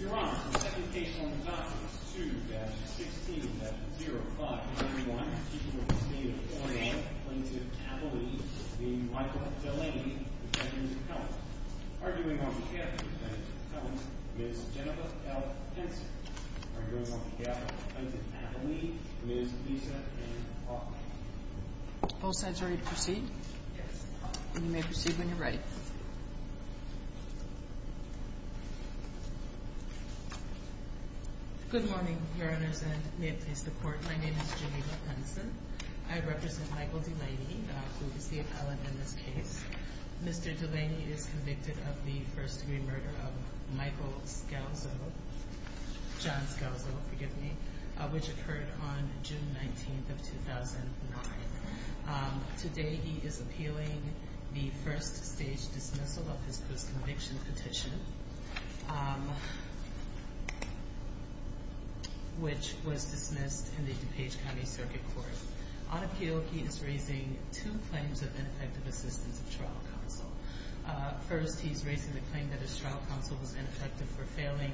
Your Honor, the second case on document 2-16-05-21, Chief of the State of Florida, Plaintiff Abilene v. Michael Delaney, Defendant Pellant. Arguing on behalf of the Defendant Pellant, Ms. Jennifer L. Henson. Arguing on behalf of Plaintiff Abilene, Ms. Lisa Ann Hoffman. Both sides ready to proceed? Yes. You may proceed when you're ready. Good morning, Your Honors, and may it please the Court. My name is Jennifer Henson. I represent Michael Delaney, who is the appellant in this case. Mr. Delaney is convicted of the first-degree murder of Michael Scalzo, John Scalzo, forgive me, which occurred on June 19th of 2009. Today he is appealing the first-stage dismissal of his post-conviction petition. Which was dismissed in the DuPage County Circuit Court. On appeal, he is raising two claims of ineffective assistance of trial counsel. First, he's raising the claim that his trial counsel was ineffective for failing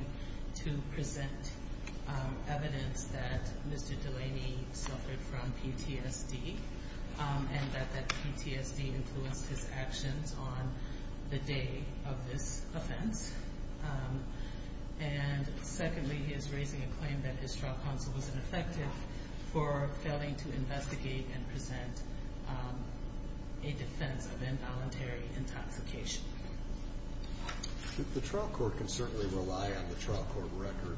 to present evidence that Mr. Delaney suffered from PTSD, and that PTSD influenced his actions on the day of this offense. And secondly, he is raising a claim that his trial counsel was ineffective for failing to investigate and present a defense of involuntary intoxication. The trial court can certainly rely on the trial court record,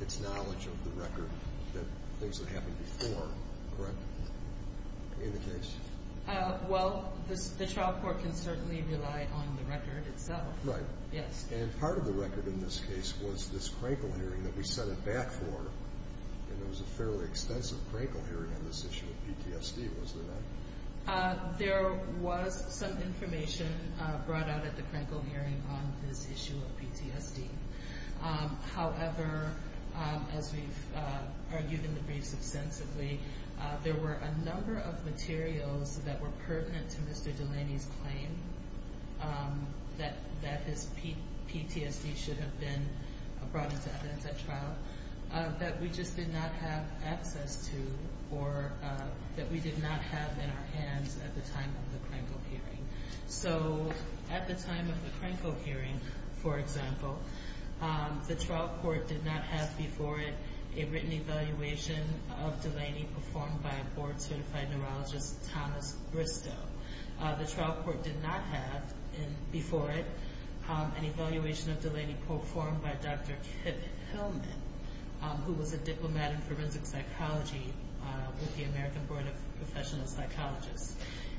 its knowledge of the record, the things that happened before, correct? In the case? Well, the trial court can certainly rely on the record itself. Right. Yes. And part of the record in this case was this crankle hearing that we set it back for, and there was a fairly extensive crankle hearing on this issue of PTSD, was there not? There was some information brought out at the crankle hearing on this issue of PTSD. However, as we've argued in the briefs extensively, there were a number of materials that were pertinent to Mr. Delaney's claim that his PTSD should have been brought into evidence at trial, that we just did not have access to, or that we did not have in our hands at the time of the crankle hearing. So at the time of the crankle hearing, for example, the trial court did not have before it a written evaluation of Delaney performed by a board-certified neurologist, Thomas Bristow. The trial court did not have before it an evaluation of Delaney performed by Dr. Kip Hillman, who was a diplomat in forensic psychology with the American Board of Professional Psychologists.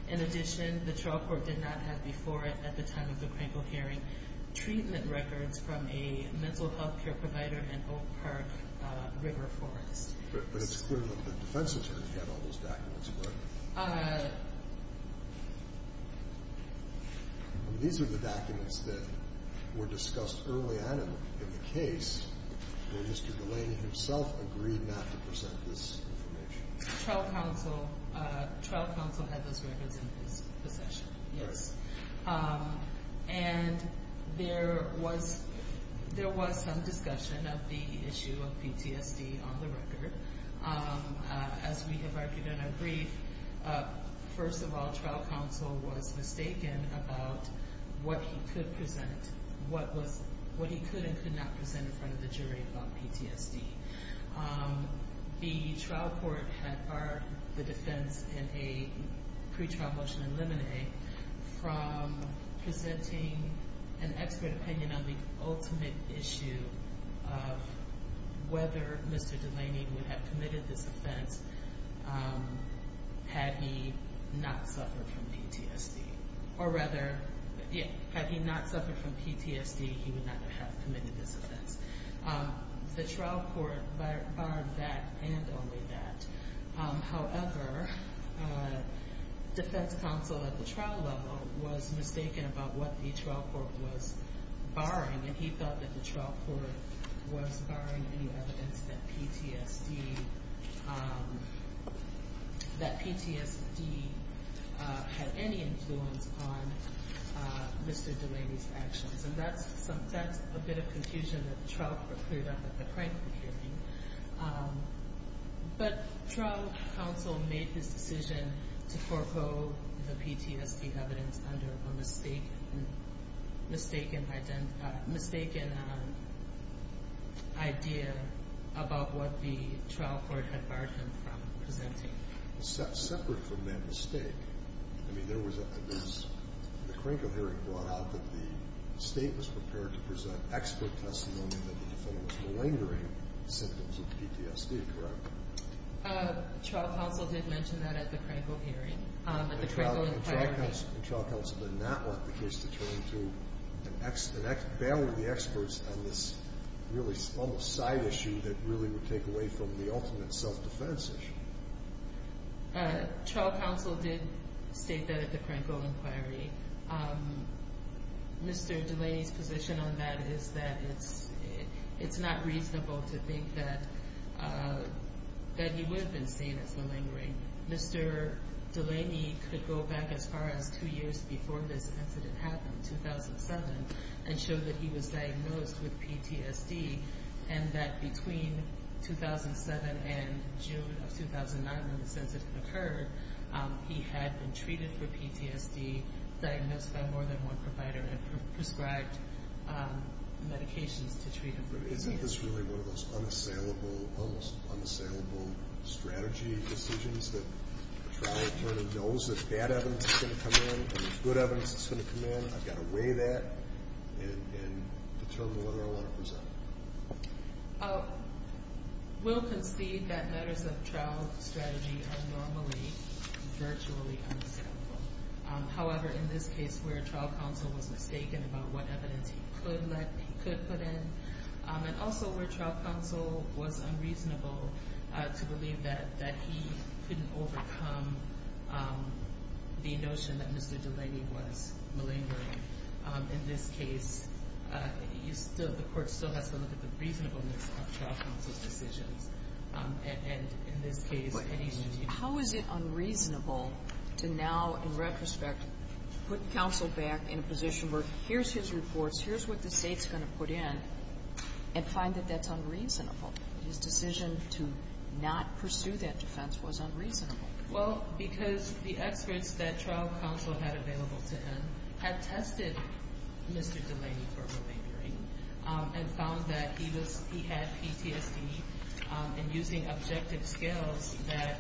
In addition, the trial court did not have before it at the time of the crankle hearing treatment records from a mental health care provider in Oak Park River Forest. But it's clear that the defense attorney had all those documents, correct? These are the documents that were discussed early on in the case where Mr. Delaney himself agreed not to present this information. Trial counsel had those records in his possession, yes. And there was some discussion of the issue of PTSD on the record. As we have argued in our brief, first of all, trial counsel was mistaken about what he could present, what he could and could not present in front of the jury about PTSD. The trial court had barred the defense in a pre-trial motion in Lemonade from presenting an expert opinion on the ultimate issue of whether Mr. Delaney would have committed this offense had he not suffered from PTSD. Or rather, had he not suffered from PTSD, he would not have committed this offense. The trial court barred that and only that. However, defense counsel at the trial level was mistaken about what the trial court was barring, and he felt that the trial court was barring any evidence that PTSD had any influence on Mr. Delaney's actions. And that's a bit of confusion that the trial court cleared up at the crime proceeding. But trial counsel made this decision to forego the PTSD evidence under a mistaken idea about what the trial court had barred him from presenting. Separate from that mistake, I mean, there was a crank of hearing brought out that the state was prepared to present expert testimony that the defendant was malingering symptoms of PTSD, correct? Trial counsel did mention that at the crank of hearing, at the crank of inquiry. And trial counsel did not want the case to turn to bailing the experts on this really almost side issue that really would take away from the ultimate self-defense issue. Trial counsel did state that at the crank of inquiry. Mr. Delaney's position on that is that it's not reasonable to think that he would have been seen as malingering. Mr. Delaney could go back as far as two years before this incident happened, 2007, and show that he was diagnosed with PTSD and that between 2007 and June of 2009, when the incident occurred, he had been treated for PTSD, diagnosed by more than one provider, and prescribed medications to treat him for PTSD. But isn't this really one of those unassailable, almost unassailable strategy decisions that the trial attorney knows that bad evidence is going to come in and there's good evidence that's going to come in? I've got to weigh that and determine whether I want to present it. We'll concede that matters of trial strategy are normally virtually unassailable. However, in this case where trial counsel was mistaken about what evidence he could put in and also where trial counsel was unreasonable to believe that he couldn't overcome the notion that Mr. Delaney was malingering, in this case, the court still has to look at the reasonableness of trial counsel's decisions. And in this case, any news you need. How is it unreasonable to now, in retrospect, put counsel back in a position where here's his reports, here's what the state's going to put in, and find that that's unreasonable? His decision to not pursue that defense was unreasonable. Well, because the experts that trial counsel had available to him had tested Mr. Delaney for malingering and found that he had PTSD and using objective skills that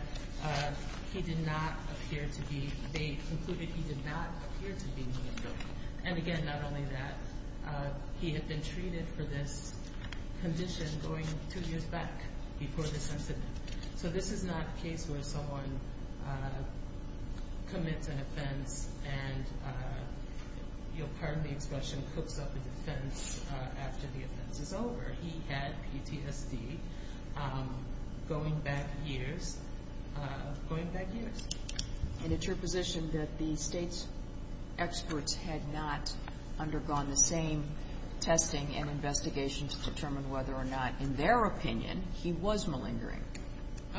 he did not appear to be, they concluded he did not appear to be malingering. And again, not only that, he had been treated for this condition going two years back before this incident. So this is not a case where someone commits an offense and your pardon the expression cooks up a defense after the offense is over. He had PTSD going back years, going back years. And it's your position that the state's experts had not undergone the same testing and investigation to determine whether or not, in their opinion, he was malingering.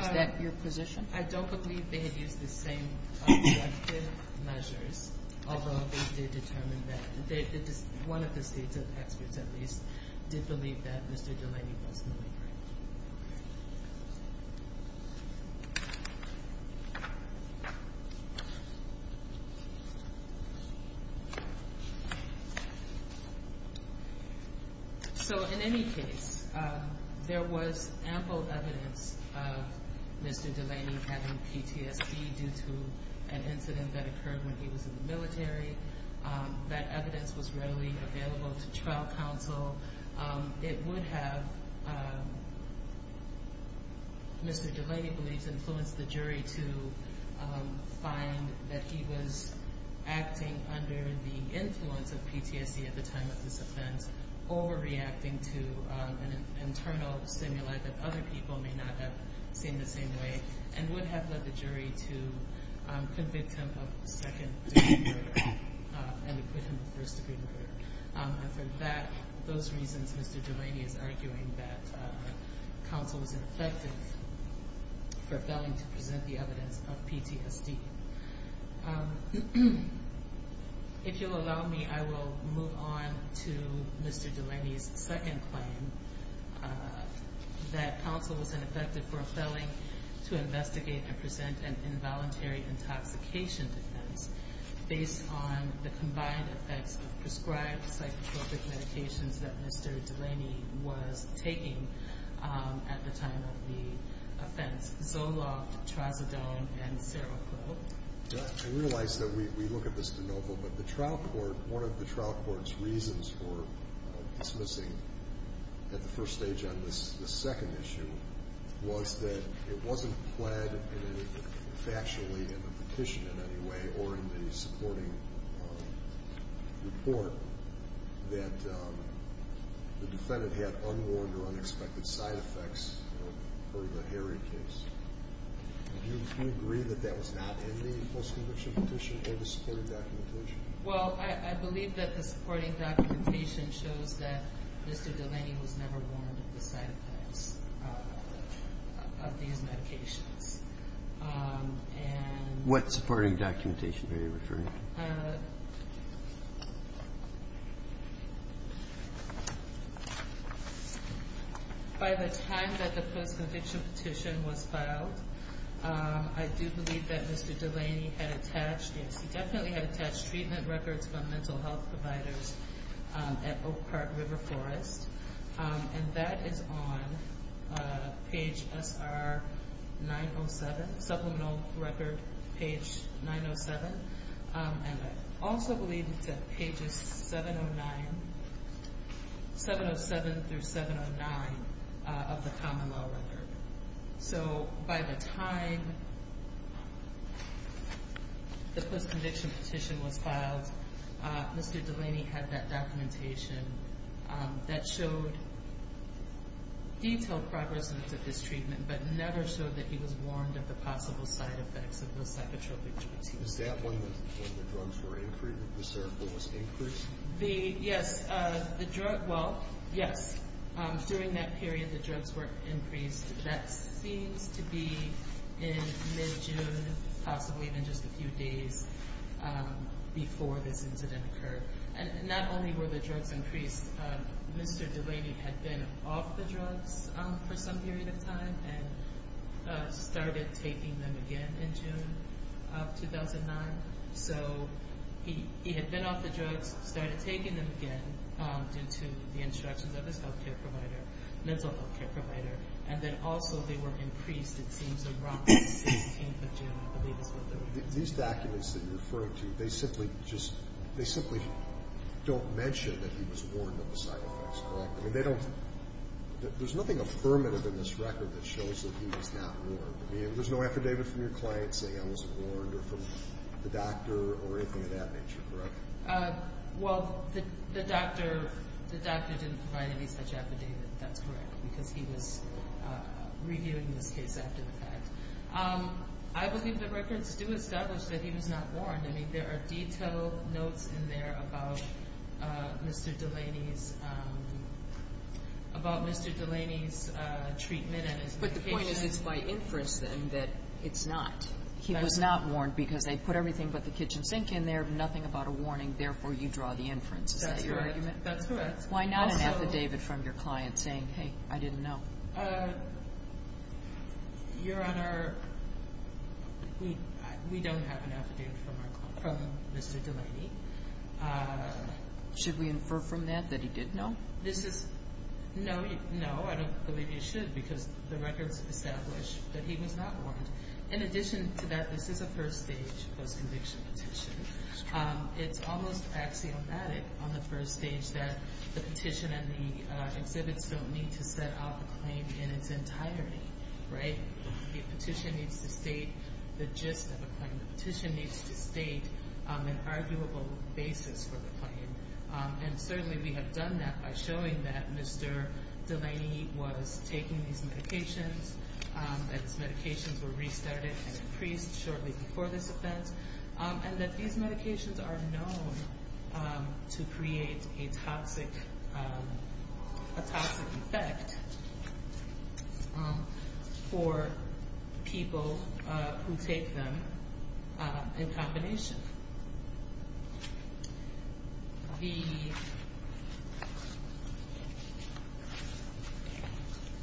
Is that your position? I don't believe they had used the same objective measures, although they did determine that. One of the states' experts, at least, did believe that Mr. Delaney was malingering. So in any case, there was ample evidence of Mr. Delaney having PTSD due to an incident that occurred when he was in the military. That evidence was readily available to trial counsel. It would have, Mr. Delaney believes, influenced the jury to find that he was acting under the influence of PTSD at the time of this offense, overreacting to an internal stimuli that other people may not have seen the same way, and would have led the jury to convict him of second-degree murder and acquit him of first-degree murder. And for those reasons, Mr. Delaney is arguing that counsel was ineffective for failing to present the evidence of PTSD. If you'll allow me, I will move on to Mr. Delaney's second claim, that counsel was ineffective for failing to investigate and present an involuntary intoxication defense based on the combined effects of prescribed psychotropic medications that Mr. Delaney was taking at the time of the offense, Zoloft, Trazodone, and Seroclop. I realize that we look at this de novo, but the trial court, one of the trial court's reasons for dismissing at the first stage on this second issue was that it wasn't pled factually in the petition in any way or in the supporting report that the defendant had unwarned or unexpected side effects per the Harry case. Do you agree that that was not in the post-conviction petition or the supporting documentation? Well, I believe that the supporting documentation shows that Mr. Delaney was never warned of the side effects of these medications. What supporting documentation are you referring to? By the time that the post-conviction petition was filed, I do believe that Mr. Delaney had attached treatment records from mental health providers at Oak Park River Forest, and that is on page SR 907, supplemental record page 907. And I also believe it's at pages 707 through 709 of the common law record. So by the time the post-conviction petition was filed, Mr. Delaney had that documentation that showed detailed progress of his treatment, but never showed that he was warned of the possible side effects of the psychotropic drugs. Was that when the drugs were increased, the Seroclop was increased? Yes, during that period the drugs were increased. That seems to be in mid-June, possibly even just a few days before this incident occurred. Not only were the drugs increased, Mr. Delaney had been off the drugs for some period of time and started taking them again in June of 2009. So he had been off the drugs, started taking them again due to the instructions of his health care provider, mental health care provider, and then also they were increased, it seems, around the 16th of June, I believe is when they were increased. These documents that you're referring to, they simply don't mention that he was warned of the side effects, correct? I mean, there's nothing affirmative in this record that shows that he was not warned. I mean, there's no affidavit from your client saying I wasn't warned or from the doctor or anything of that nature, correct? Well, the doctor didn't provide any such affidavit, that's correct, because he was reviewing this case after the fact. I believe the records do establish that he was not warned. I mean, there are detailed notes in there about Mr. Delaney's treatment and his medication. But the point is it's by inference, then, that it's not. He was not warned because they put everything but the kitchen sink in there, nothing about a warning, therefore you draw the inference. Is that your argument? That's correct. Why not an affidavit from your client saying, hey, I didn't know? Your Honor, we don't have an affidavit from Mr. Delaney. Should we infer from that that he did know? No, I don't believe you should because the records establish that he was not warned. In addition to that, this is a first stage post-conviction petition. It's almost axiomatic on the first stage that the petition and the exhibits don't need to set out the claim in its entirety, right? The petition needs to state the gist of the claim. The petition needs to state an arguable basis for the claim. And certainly we have done that by showing that Mr. Delaney was taking these medications, that his medications were restarted and increased shortly before this event, and that these medications are known to create a toxic effect for people who take them in combination.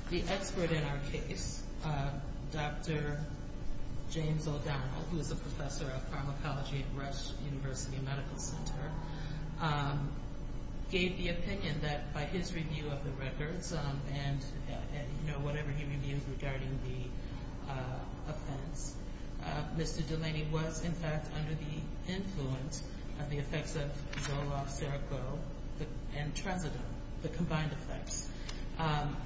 The expert in our case, Dr. James O'Donnell, who is a professor of pharmacology at Rush University Medical Center, gave the opinion that by his review of the records and whatever he reviews regarding the offense, Mr. Delaney was, in fact, under the influence of the effects of Zoloft, Cereco, and Transodone, the combined effects.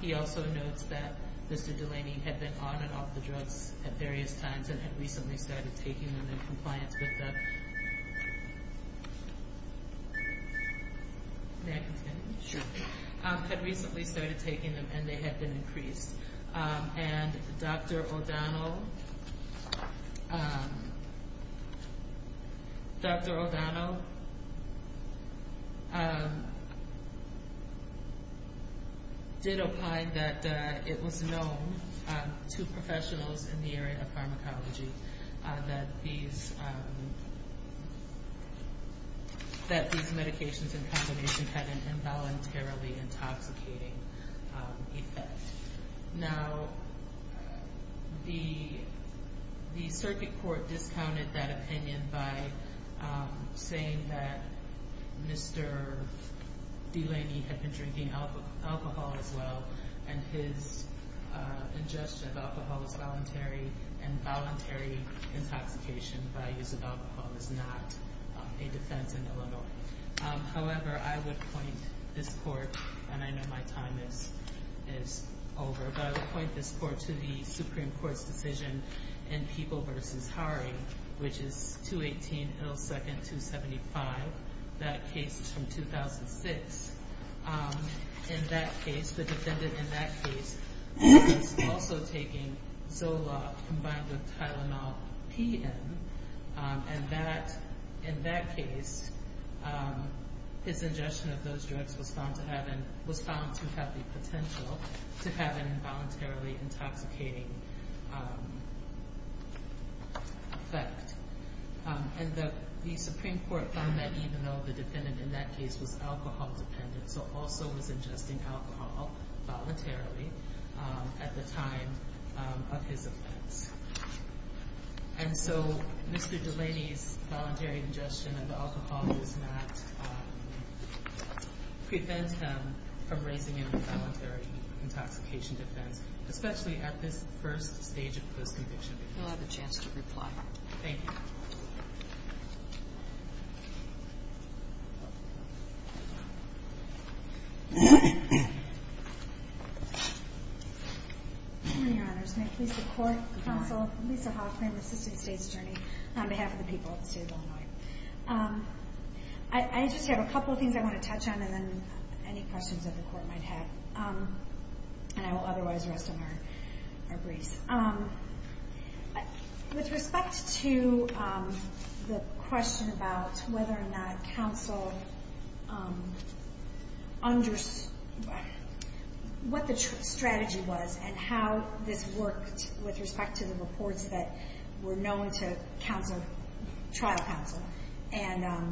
He also notes that Mr. Delaney had been on and off the drugs at various times and had recently started taking them in compliance with the... May I continue? Sure. Had recently started taking them and they had been increased. And Dr. O'Donnell did opine that it was known to professionals in the area of pharmacology that these medications in combination had an involuntarily intoxicating effect. Now, the circuit court discounted that opinion by saying that Mr. Delaney had been drinking alcohol as well and his ingestion of alcohol was voluntary and voluntary intoxication by use of alcohol is not a defense in Illinois. However, I would point this court, and I know my time is over, but I would point this court to the Supreme Court's decision in People v. Hari, which is 218 L. 2nd. 275. That case is from 2006. In that case, the defendant in that case was also taking Zoloft combined with Tylenol P.M. And in that case, his ingestion of those drugs was found to have the potential to have an involuntarily intoxicating effect. And the Supreme Court found that even though the defendant in that case was alcohol dependent, so also was ingesting alcohol voluntarily at the time of his offense. And so Mr. Delaney's voluntary ingestion of alcohol does not prevent him from raising an involuntary intoxication defense, especially at this first stage of post-conviction. You'll have a chance to reply. Thank you. Good morning, Your Honors. May it please the Court, Counsel Lisa Hoffman, Assistant State's Attorney, on behalf of the people of the State of Illinois. I just have a couple of things I want to touch on, and then any questions that the Court might have. And I will otherwise rest on our briefs. With respect to the question about whether or not counsel understood what the strategy was and how this worked with respect to the reports that were known to trial counsel and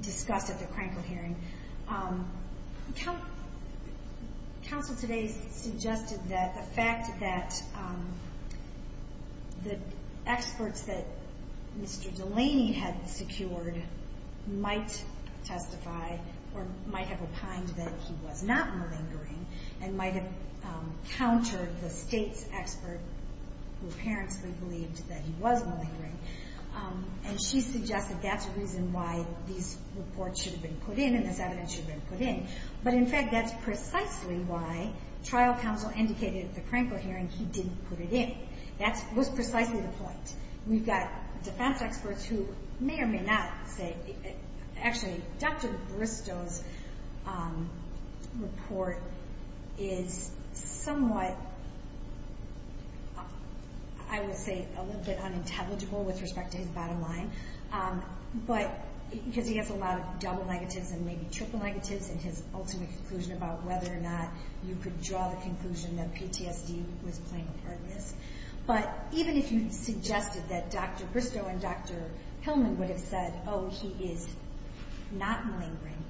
discussed at the Krankel hearing, counsel today suggested that the fact that the experts that Mr. Delaney had secured might testify or might have opined that he was not malingering and might have countered the State's expert, who apparently believed that he was malingering. And she suggested that's the reason why these reports should have been put in and this evidence should have been put in. But, in fact, that's precisely why trial counsel indicated at the Krankel hearing he didn't put it in. That was precisely the point. We've got defense experts who may or may not say, Actually, Dr. Bristow's report is somewhat, I would say, a little bit unintelligible with respect to his bottom line, because he has a lot of double negatives and maybe triple negatives in his ultimate conclusion about whether or not you could draw the conclusion that PTSD was playing a part in this. But even if you suggested that Dr. Bristow and Dr. Hillman would have said, Oh, he is not malingering,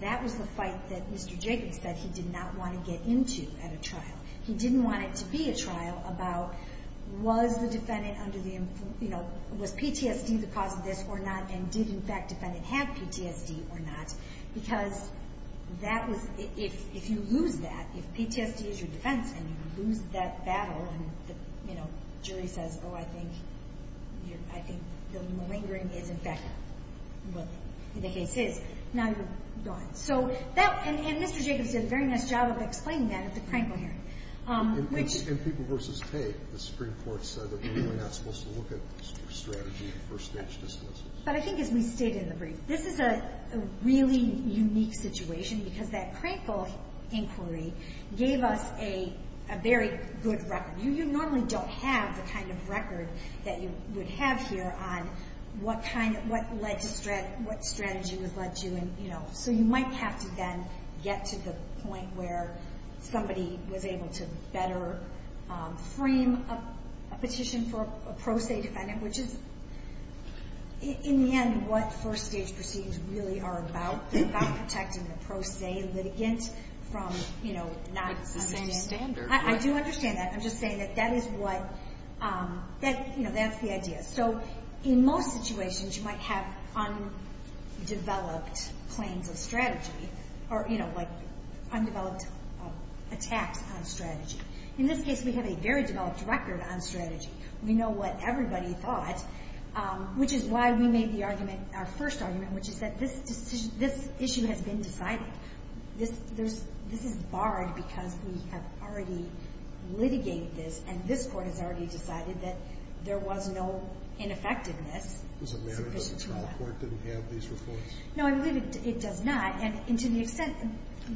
that was the fight that Mr. Jacobs said he did not want to get into at a trial. He didn't want it to be a trial about was the defendant under the, you know, was PTSD the cause of this or not, and did, in fact, defendant have PTSD or not? Because that was, if you lose that, if PTSD is your defense and you lose that battle and the, you know, jury says, Oh, I think you're, I think the malingering is, in fact, what the case is, now you're gone. So that, and Mr. Jacobs did a very nice job of explaining that at the Krankel hearing, which is. In People v. Pay, the Supreme Court said that we were not supposed to look at the strategy of first-stage dismissals. But I think as we stated in the brief, this is a really unique situation because that Krankel inquiry gave us a very good record. You normally don't have the kind of record that you would have here on what kind of, what led to, what strategy was led to, and, you know. So you might have to then get to the point where somebody was able to better frame a petition for a pro se defendant, which is, in the end, what first-stage proceedings really are about, about protecting the pro se litigant from, you know, not understanding. But it's the same standard. I do understand that. I'm just saying that that is what, that, you know, that's the idea. So in most situations, you might have undeveloped claims of strategy or, you know, like undeveloped attacks on strategy. In this case, we have a very developed record on strategy. We know what everybody thought, which is why we made the argument, our first argument, which is that this issue has been decided. This is barred because we have already litigated this, and this Court has already decided that there was no ineffectiveness sufficient for that. Does it matter that the trial court didn't have these reports? No, I believe it does not. And to the extent,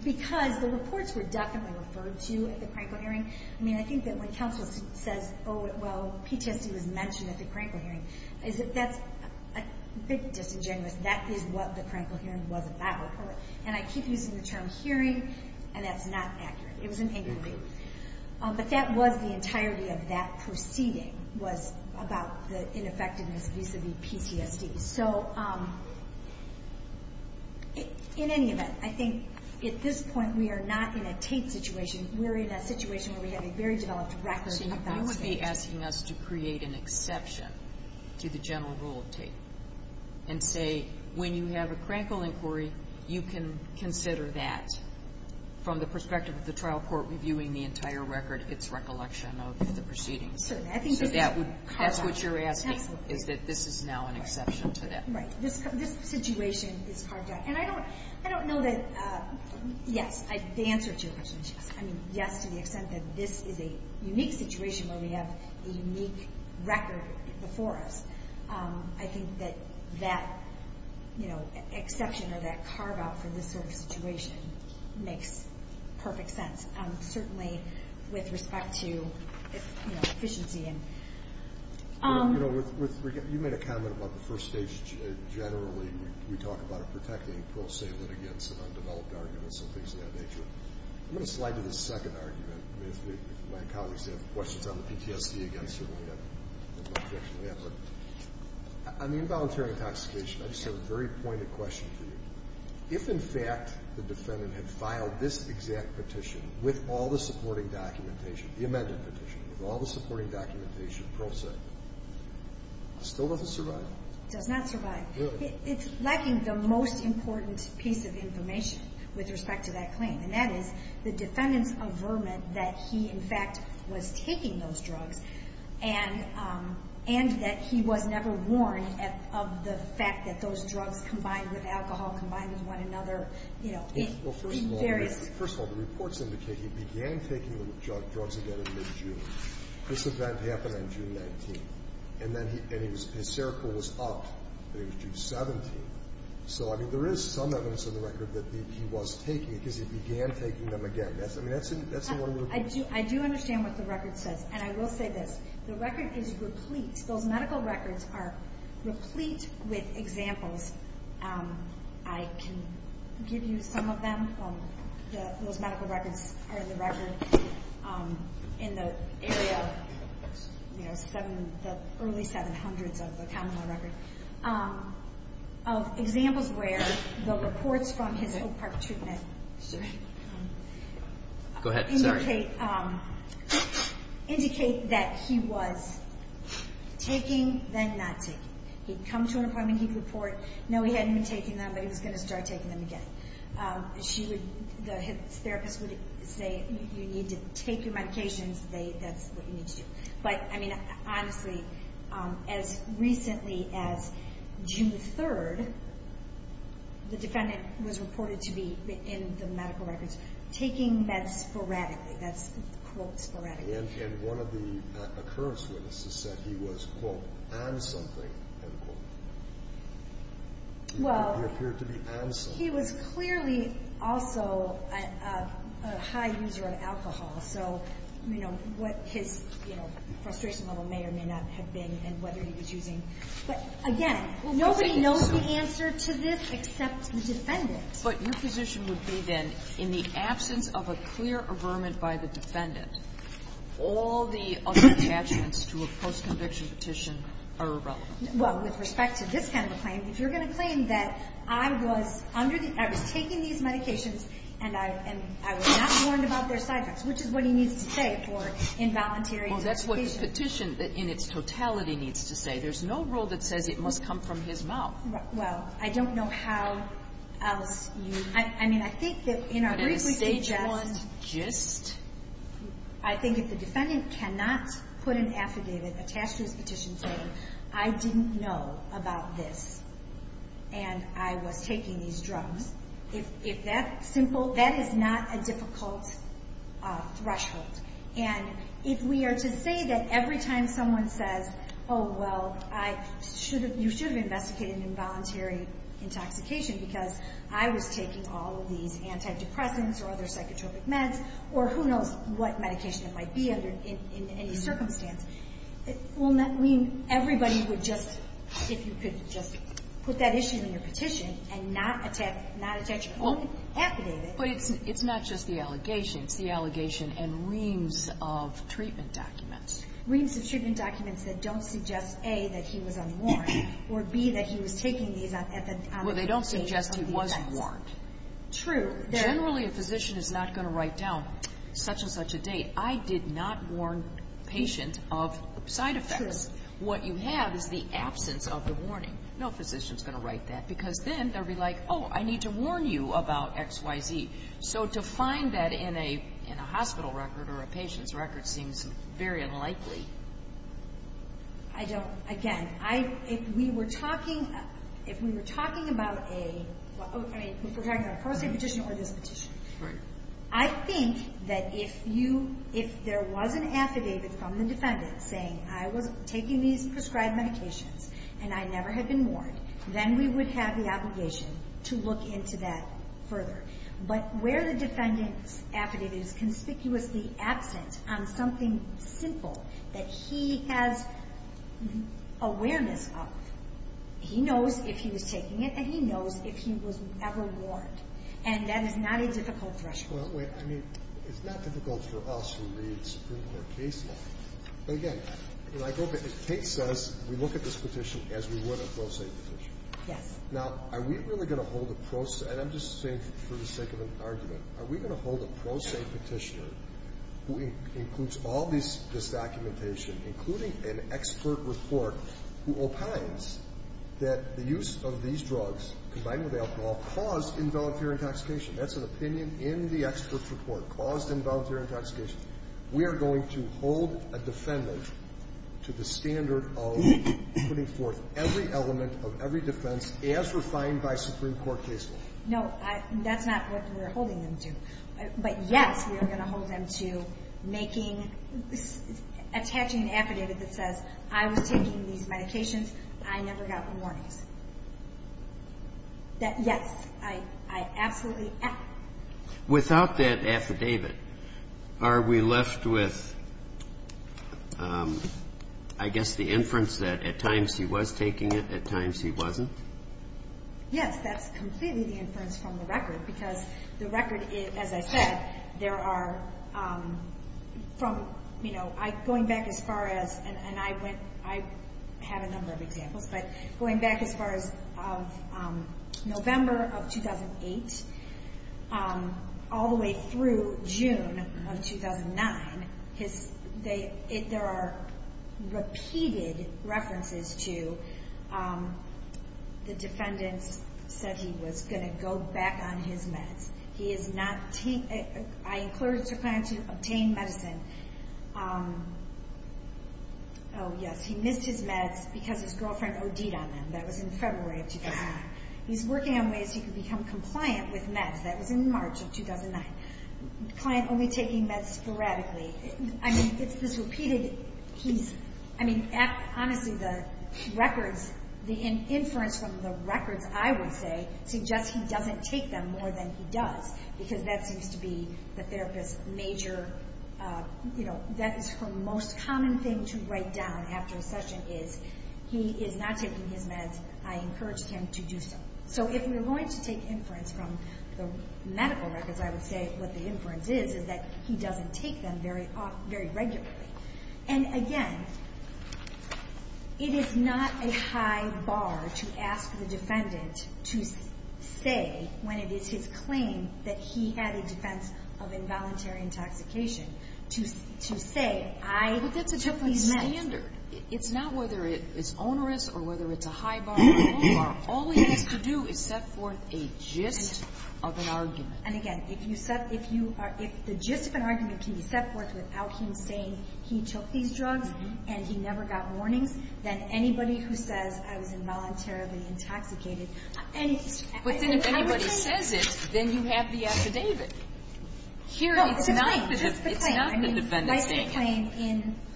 because the reports were definitely referred to at the crankle hearing. I mean, I think that when counsel says, oh, well, PTSD was mentioned at the crankle hearing, that's a bit disingenuous. That is what the crankle hearing was about. And I keep using the term hearing, and that's not accurate. It was an angry group. But that was the entirety of that proceeding was about the ineffectiveness vis-a-vis PTSD. So in any event, I think at this point we are not in a Tate situation. We're in a situation where we have a very developed record. So you would be asking us to create an exception to the general rule of Tate and say when you have a crankle inquiry, you can consider that from the perspective of the trial court reviewing the entire record, its recollection of the proceedings. So that's what you're asking, is that this is now an exception to that? Right. This situation is carved out. And I don't know that, yes, the answer to your question is yes. I mean, yes to the extent that this is a unique situation where we have a unique record before us. I think that that exception or that carve-out for this sort of situation makes perfect sense. Certainly with respect to efficiency. You know, you made a comment about the first stage generally. We talk about protecting pro se litigants and undeveloped arguments and things of that nature. I'm going to slide to the second argument. If my colleagues have questions on the PTSD, again, certainly I have no objection to that. But on the involuntary intoxication, I just have a very pointed question for you. If, in fact, the defendant had filed this exact petition with all the supporting documentation, the amended petition, with all the supporting documentation, pro se, still does it survive? It does not survive. Really? It's lacking the most important piece of information with respect to that claim, and that is the defendant's averment that he, in fact, was taking those drugs and that he was never warned of the fact that those drugs combined with alcohol, combined with one another. Well, first of all, the reports indicate he began taking the drugs again in mid-June. This event happened on June 19th. And then his seroquel was upped. It was June 17th. So, I mean, there is some evidence in the record that he was taking it because he began taking them again. I mean, that's the one little thing. I do understand what the record says. And I will say this. The record is replete. Those medical records are replete with examples. I can give you some of them. Those medical records are in the record in the area of, you know, the early 700s of the common law record. Examples where the reports from his Oak Park treatment indicate that he was taking, then not taking. He'd come to an appointment. He'd report, no, he hadn't been taking them, but he was going to start taking them again. The therapist would say, you need to take your medications. That's what you need to do. But, I mean, honestly, as recently as June 3rd, the defendant was reported to be, in the medical records, taking meds sporadically. That's, quote, sporadically. And one of the occurrence witnesses said he was, quote, on something, end quote. He appeared to be on something. He was clearly also a high user of alcohol. So, you know, what his, you know, frustration level may or may not have been and whether he was using. But, again, nobody knows the answer to this except the defendant. But your position would be, then, in the absence of a clear averment by the defendant, all the other attachments to a post-conviction petition are irrelevant. Well, with respect to this kind of claim, if you're going to claim that I was under the, I was taking these medications and I was not warned about their side effects, which is what he needs to say for involuntary medication. Well, that's what the petition, in its totality, needs to say. There's no rule that says it must come from his mouth. Well, I don't know how else you, I mean, I think that in our brief we can just. But at a stage one, just. I think if the defendant cannot put an affidavit attached to his petition saying I didn't know about this and I was taking these drugs, if that simple, that is not a difficult threshold. And if we are to say that every time someone says, oh, well, I should have, you should have investigated involuntary intoxication because I was taking all of these antidepressants or other psychotropic meds or who knows what medication it might be under any circumstance, it will not mean everybody would just, if you could just put that issue in your petition and not attach an affidavit. But it's not just the allegation. It's the allegation and reams of treatment documents. Reams of treatment documents that don't suggest, A, that he was unwarned or, B, that he was taking these on the occasion of these events. Well, they don't suggest he was warned. True. Generally, a physician is not going to write down such and such a date. I did not warn patient of side effects. True. What you have is the absence of the warning. No physician is going to write that because then they'll be like, oh, I need to warn you about X, Y, Z. So to find that in a hospital record or a patient's record seems very unlikely. I don't. Again, I, if we were talking, if we were talking about a, I mean, if we're talking about a pro se petition or this petition. Right. I think that if you, if there was an affidavit from the defendant saying I was taking these prescribed medications and I never had been warned, then we would have the obligation to look into that further. But where the defendant's affidavit is conspicuously absent on something simple that he has awareness of, he knows if he was taking it and he knows if he was ever warned. And that is not a difficult threshold. Well, wait, I mean, it's not difficult for us who read Supreme Court case law. But again, when I go back, it takes us, we look at this petition as we would a pro se petition. Yes. Now, are we really going to hold a pro se, and I'm just saying for the sake of an argument, are we going to hold a pro se petitioner who includes all this documentation, including an expert report who opines that the use of these drugs, combined with alcohol, caused involuntary intoxication? That's an opinion in the expert report, caused involuntary intoxication. We are going to hold a defendant to the standard of putting forth every element of every defense as refined by Supreme Court case law. No, that's not what we're holding them to. But, yes, we are going to hold them to making, attaching an affidavit that says, I was taking these medications, I never got warnings. That, yes, I absolutely. Without that affidavit, are we left with, I guess, the inference that at times he was taking it, at times he wasn't? Yes, that's completely the inference from the record, because the record, as I said, there are from, you know, going back as far as, and I went, I have a number of examples, but going back as far as November of 2008, all the way through June of 2009, there are repeated references to the defendant said he was going to go back on his meds. He is not, I included to plan to obtain medicine. Oh, yes, he missed his meds because his girlfriend OD'd on them. That was in February of 2009. He's working on ways he can become compliant with meds. That was in March of 2009. Client only taking meds sporadically. I mean, it's this repeated, he's, I mean, honestly, the records, the inference from the records, I would say, suggests he doesn't take them more than he does, because that seems to be the therapist's major, you know, that is her most common thing to write down after a session is he is not taking his meds. I encouraged him to do so. So if we're going to take inference from the medical records, I would say what the inference is is that he doesn't take them very regularly. And, again, it is not a high bar to ask the defendant to say when it is his claim that he had a defense of involuntary intoxication, to say, I took these meds. But that's a different standard. It's not whether it's onerous or whether it's a high bar or a low bar. All he has to do is set forth a gist of an argument. And, again, if you set, if you are, if the gist of an argument can be set forth without him saying he took these drugs and he never got warnings, then anybody who says, I was involuntarily intoxicated, any of these things. But then if anybody says it, then you have the affidavit. No, it's a claim. It's not the defendant's claim.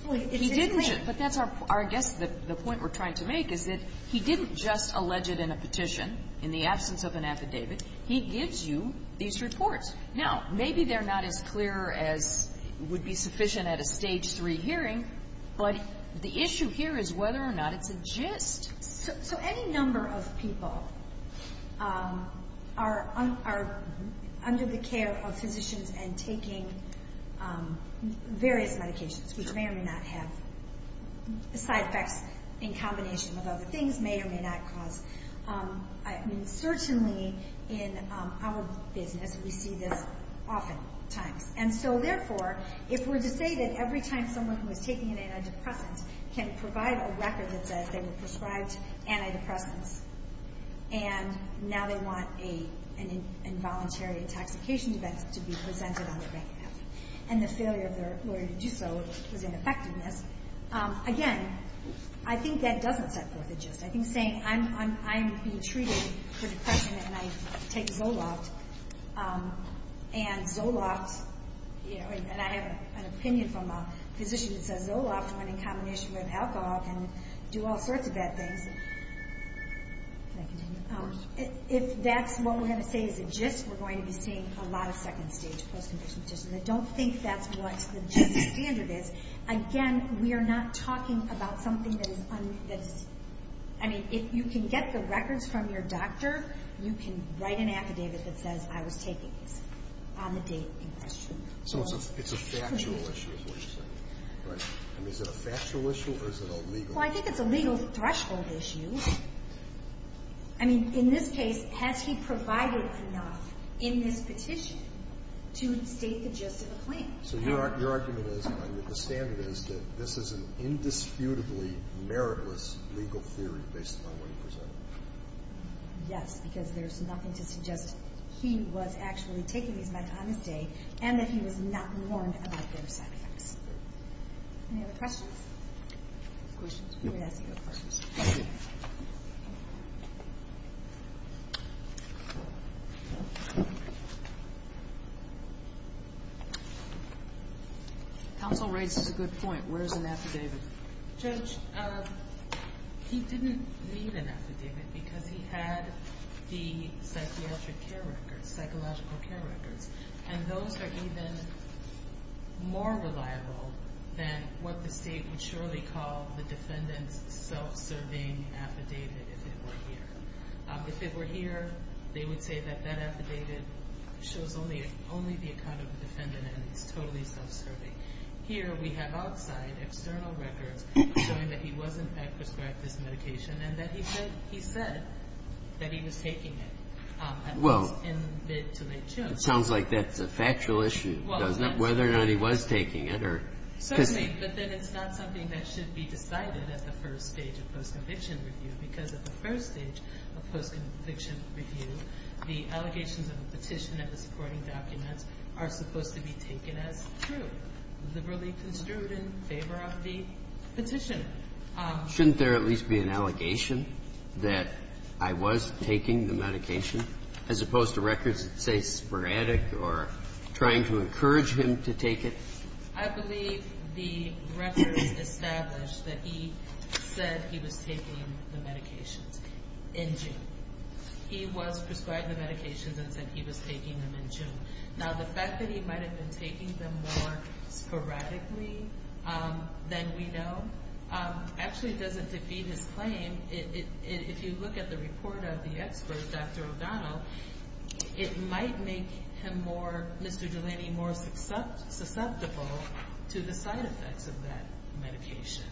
It's a claim. But that's our gist. The point we're trying to make is that he didn't just allege it in a petition, in the absence of an affidavit. He gives you these reports. Now, maybe they're not as clear as would be sufficient at a Stage 3 hearing, but the issue here is whether or not it's a gist. So any number of people are under the care of physicians and taking various medications, which may or may not have side effects in combination with other things, may or may not cause. I mean, certainly in our business, we see this oftentimes. And so, therefore, if we're to say that every time someone who was taking an antidepressant can provide a record that says they were prescribed antidepressants and now they want an involuntary intoxication event to be presented on their bank account and the failure of their lawyer to do so was an effectiveness, I think saying, I'm being treated for depression and I take Zoloft, and I have an opinion from a physician that says Zoloft, when in combination with alcohol, can do all sorts of bad things. If that's what we're going to say is a gist, we're going to be seeing a lot of second-stage post-conviction petitions. I don't think that's what the gist standard is. Again, we are not talking about something that is, I mean, if you can get the records from your doctor, you can write an affidavit that says I was taking these on the date in question. So it's a factual issue is what you're saying? Right. I mean, is it a factual issue or is it a legal issue? Well, I think it's a legal threshold issue. I mean, in this case, has he provided enough in this petition to state the gist of a claim? So your argument is, and I understand it, is that this is an indisputably meritless legal theory based upon what you presented? Yes, because there's nothing to suggest he was actually taking these back on his date and that he was not warned about their side effects. Any other questions? Questions? We're going to ask a couple questions. Counsel raises a good point. Where is an affidavit? Judge, he didn't need an affidavit because he had the psychiatric care records, psychological care records, and those are even more reliable than what the state would surely call the defendant's self-serving affidavit if it were here. If it were here, they would say that that affidavit shows only the account of the defendant and it's totally self-serving. Here we have outside external records showing that he was, in fact, prescribed this medication and that he said that he was taking it. Well, it sounds like that's a factual issue, doesn't it, whether or not he was taking it. Certainly, but then it's not something that should be decided at the first stage of post-conviction review because at the first stage of post-conviction review, the allegations of the petition and the supporting documents are supposed to be taken as true, liberally construed in favor of the petition. Shouldn't there at least be an allegation that I was taking the medication, as opposed to records that say sporadic or trying to encourage him to take it? I believe the records establish that he said he was taking the medications in June. He was prescribed the medications and said he was taking them in June. Now, the fact that he might have been taking them more sporadically than we know, actually doesn't defeat his claim. If you look at the report of the expert, Dr. O'Donnell, it might make him more, Mr. Delaney, more susceptible to the side effects of that medication.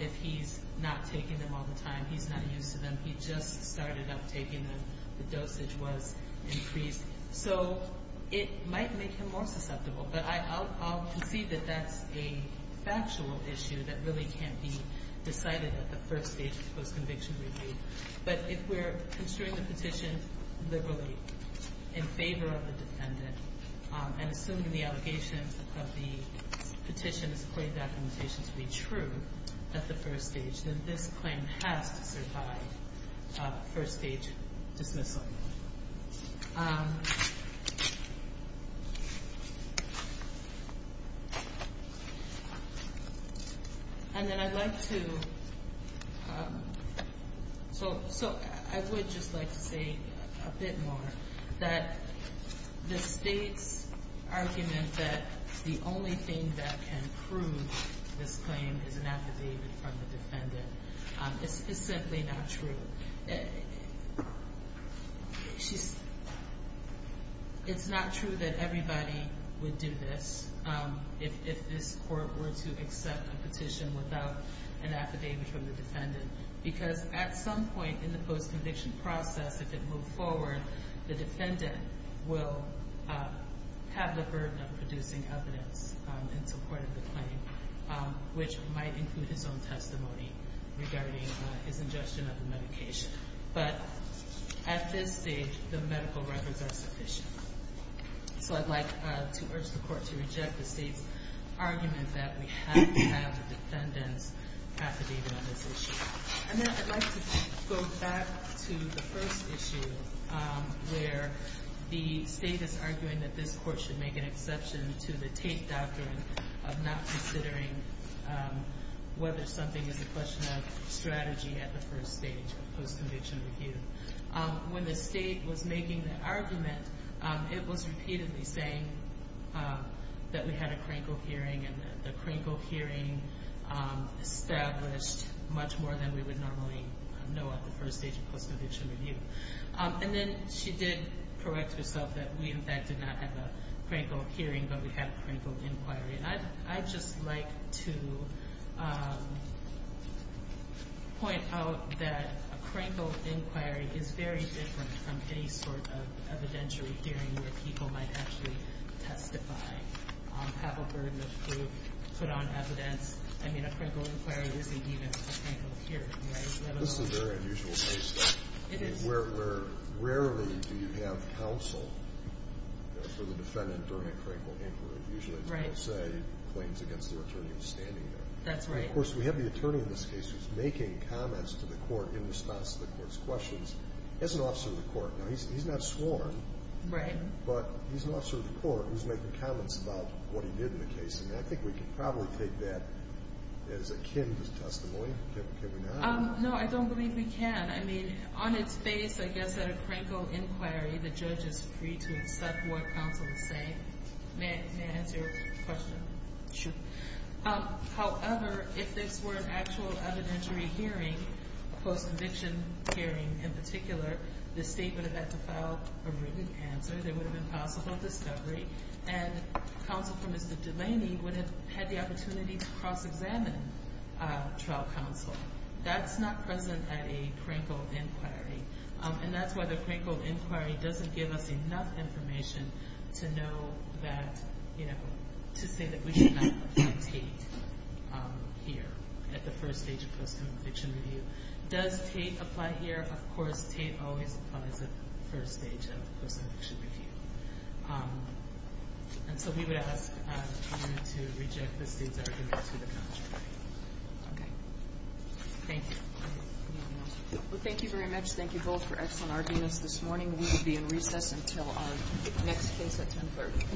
If he's not taking them all the time, he's not used to them. He just started up taking them. The dosage was increased. So it might make him more susceptible, but I'll concede that that's a factual issue that really can't be decided at the first stage of post-conviction review. But if we're construing the petition liberally in favor of the defendant and assuming the allegations of the petition is equated documentation to be true at the first stage, then this claim has to survive first-stage dismissal. And then I'd like to – so I would just like to say a bit more that the state's argument that the only thing that can prove this claim is an affidavit from the defendant is simply not true. It's not true that everybody would do this if this court were to accept a petition without an affidavit from the defendant. Because at some point in the post-conviction process, if it moved forward, the defendant will have the burden of producing evidence in support of the claim, which might include his own testimony regarding his ingestion of the medication. But at this stage, the medical records are sufficient. So I'd like to urge the court to reject the state's argument that we have to have a defendant's affidavit on this issue. And then I'd like to go back to the first issue where the state is arguing that this court should make an exception to the Tate Doctrine of not considering whether something is a question of strategy at the first stage of post-conviction review. When the state was making the argument, it was repeatedly saying that we had a Krinkle hearing and that the Krinkle hearing established much more than we would normally know at the first stage of post-conviction review. And then she did correct herself that we, in fact, did not have a Krinkle hearing, but we had a Krinkle inquiry. I'd just like to point out that a Krinkle inquiry is very different from any sort of evidentiary hearing where people might actually testify, have a burden of proof, put on evidence. I mean, a Krinkle inquiry isn't even a Krinkle hearing. Right? This is a very unusual case. It is. I mean, where rarely do you have counsel for the defendant during a Krinkle inquiry, usually, as people say, claims against their attorney who's standing there. That's right. And, of course, we have the attorney in this case who's making comments to the court in response to the court's questions as an officer of the court. Now, he's not sworn. Right. But he's an officer of the court who's making comments about what he did in the case. And I think we can probably take that as akin to testimony. Can we not? No, I don't believe we can. I mean, on its face, I guess, at a Krinkle inquiry, the judge is free to accept what counsel is saying. May I answer your question? Sure. However, if this were an actual evidentiary hearing, a post-conviction hearing in particular, the state would have had to file a written answer. There would have been possible discovery. And counsel for Mr. Delaney would have had the opportunity to cross-examine trial counsel. That's not present at a Krinkle inquiry. And that's why the Krinkle inquiry doesn't give us enough information to know that, you know, to say that we should not apply Tate here at the first stage of post-conviction review. Does Tate apply here? Of course, Tate always applies at the first stage of post-conviction review. And so we would ask you to reject the state's argument to the contrary. Okay. Thank you. Well, thank you very much. Thank you both for excellent arguments this morning. We will be in recess until our next case at 1030.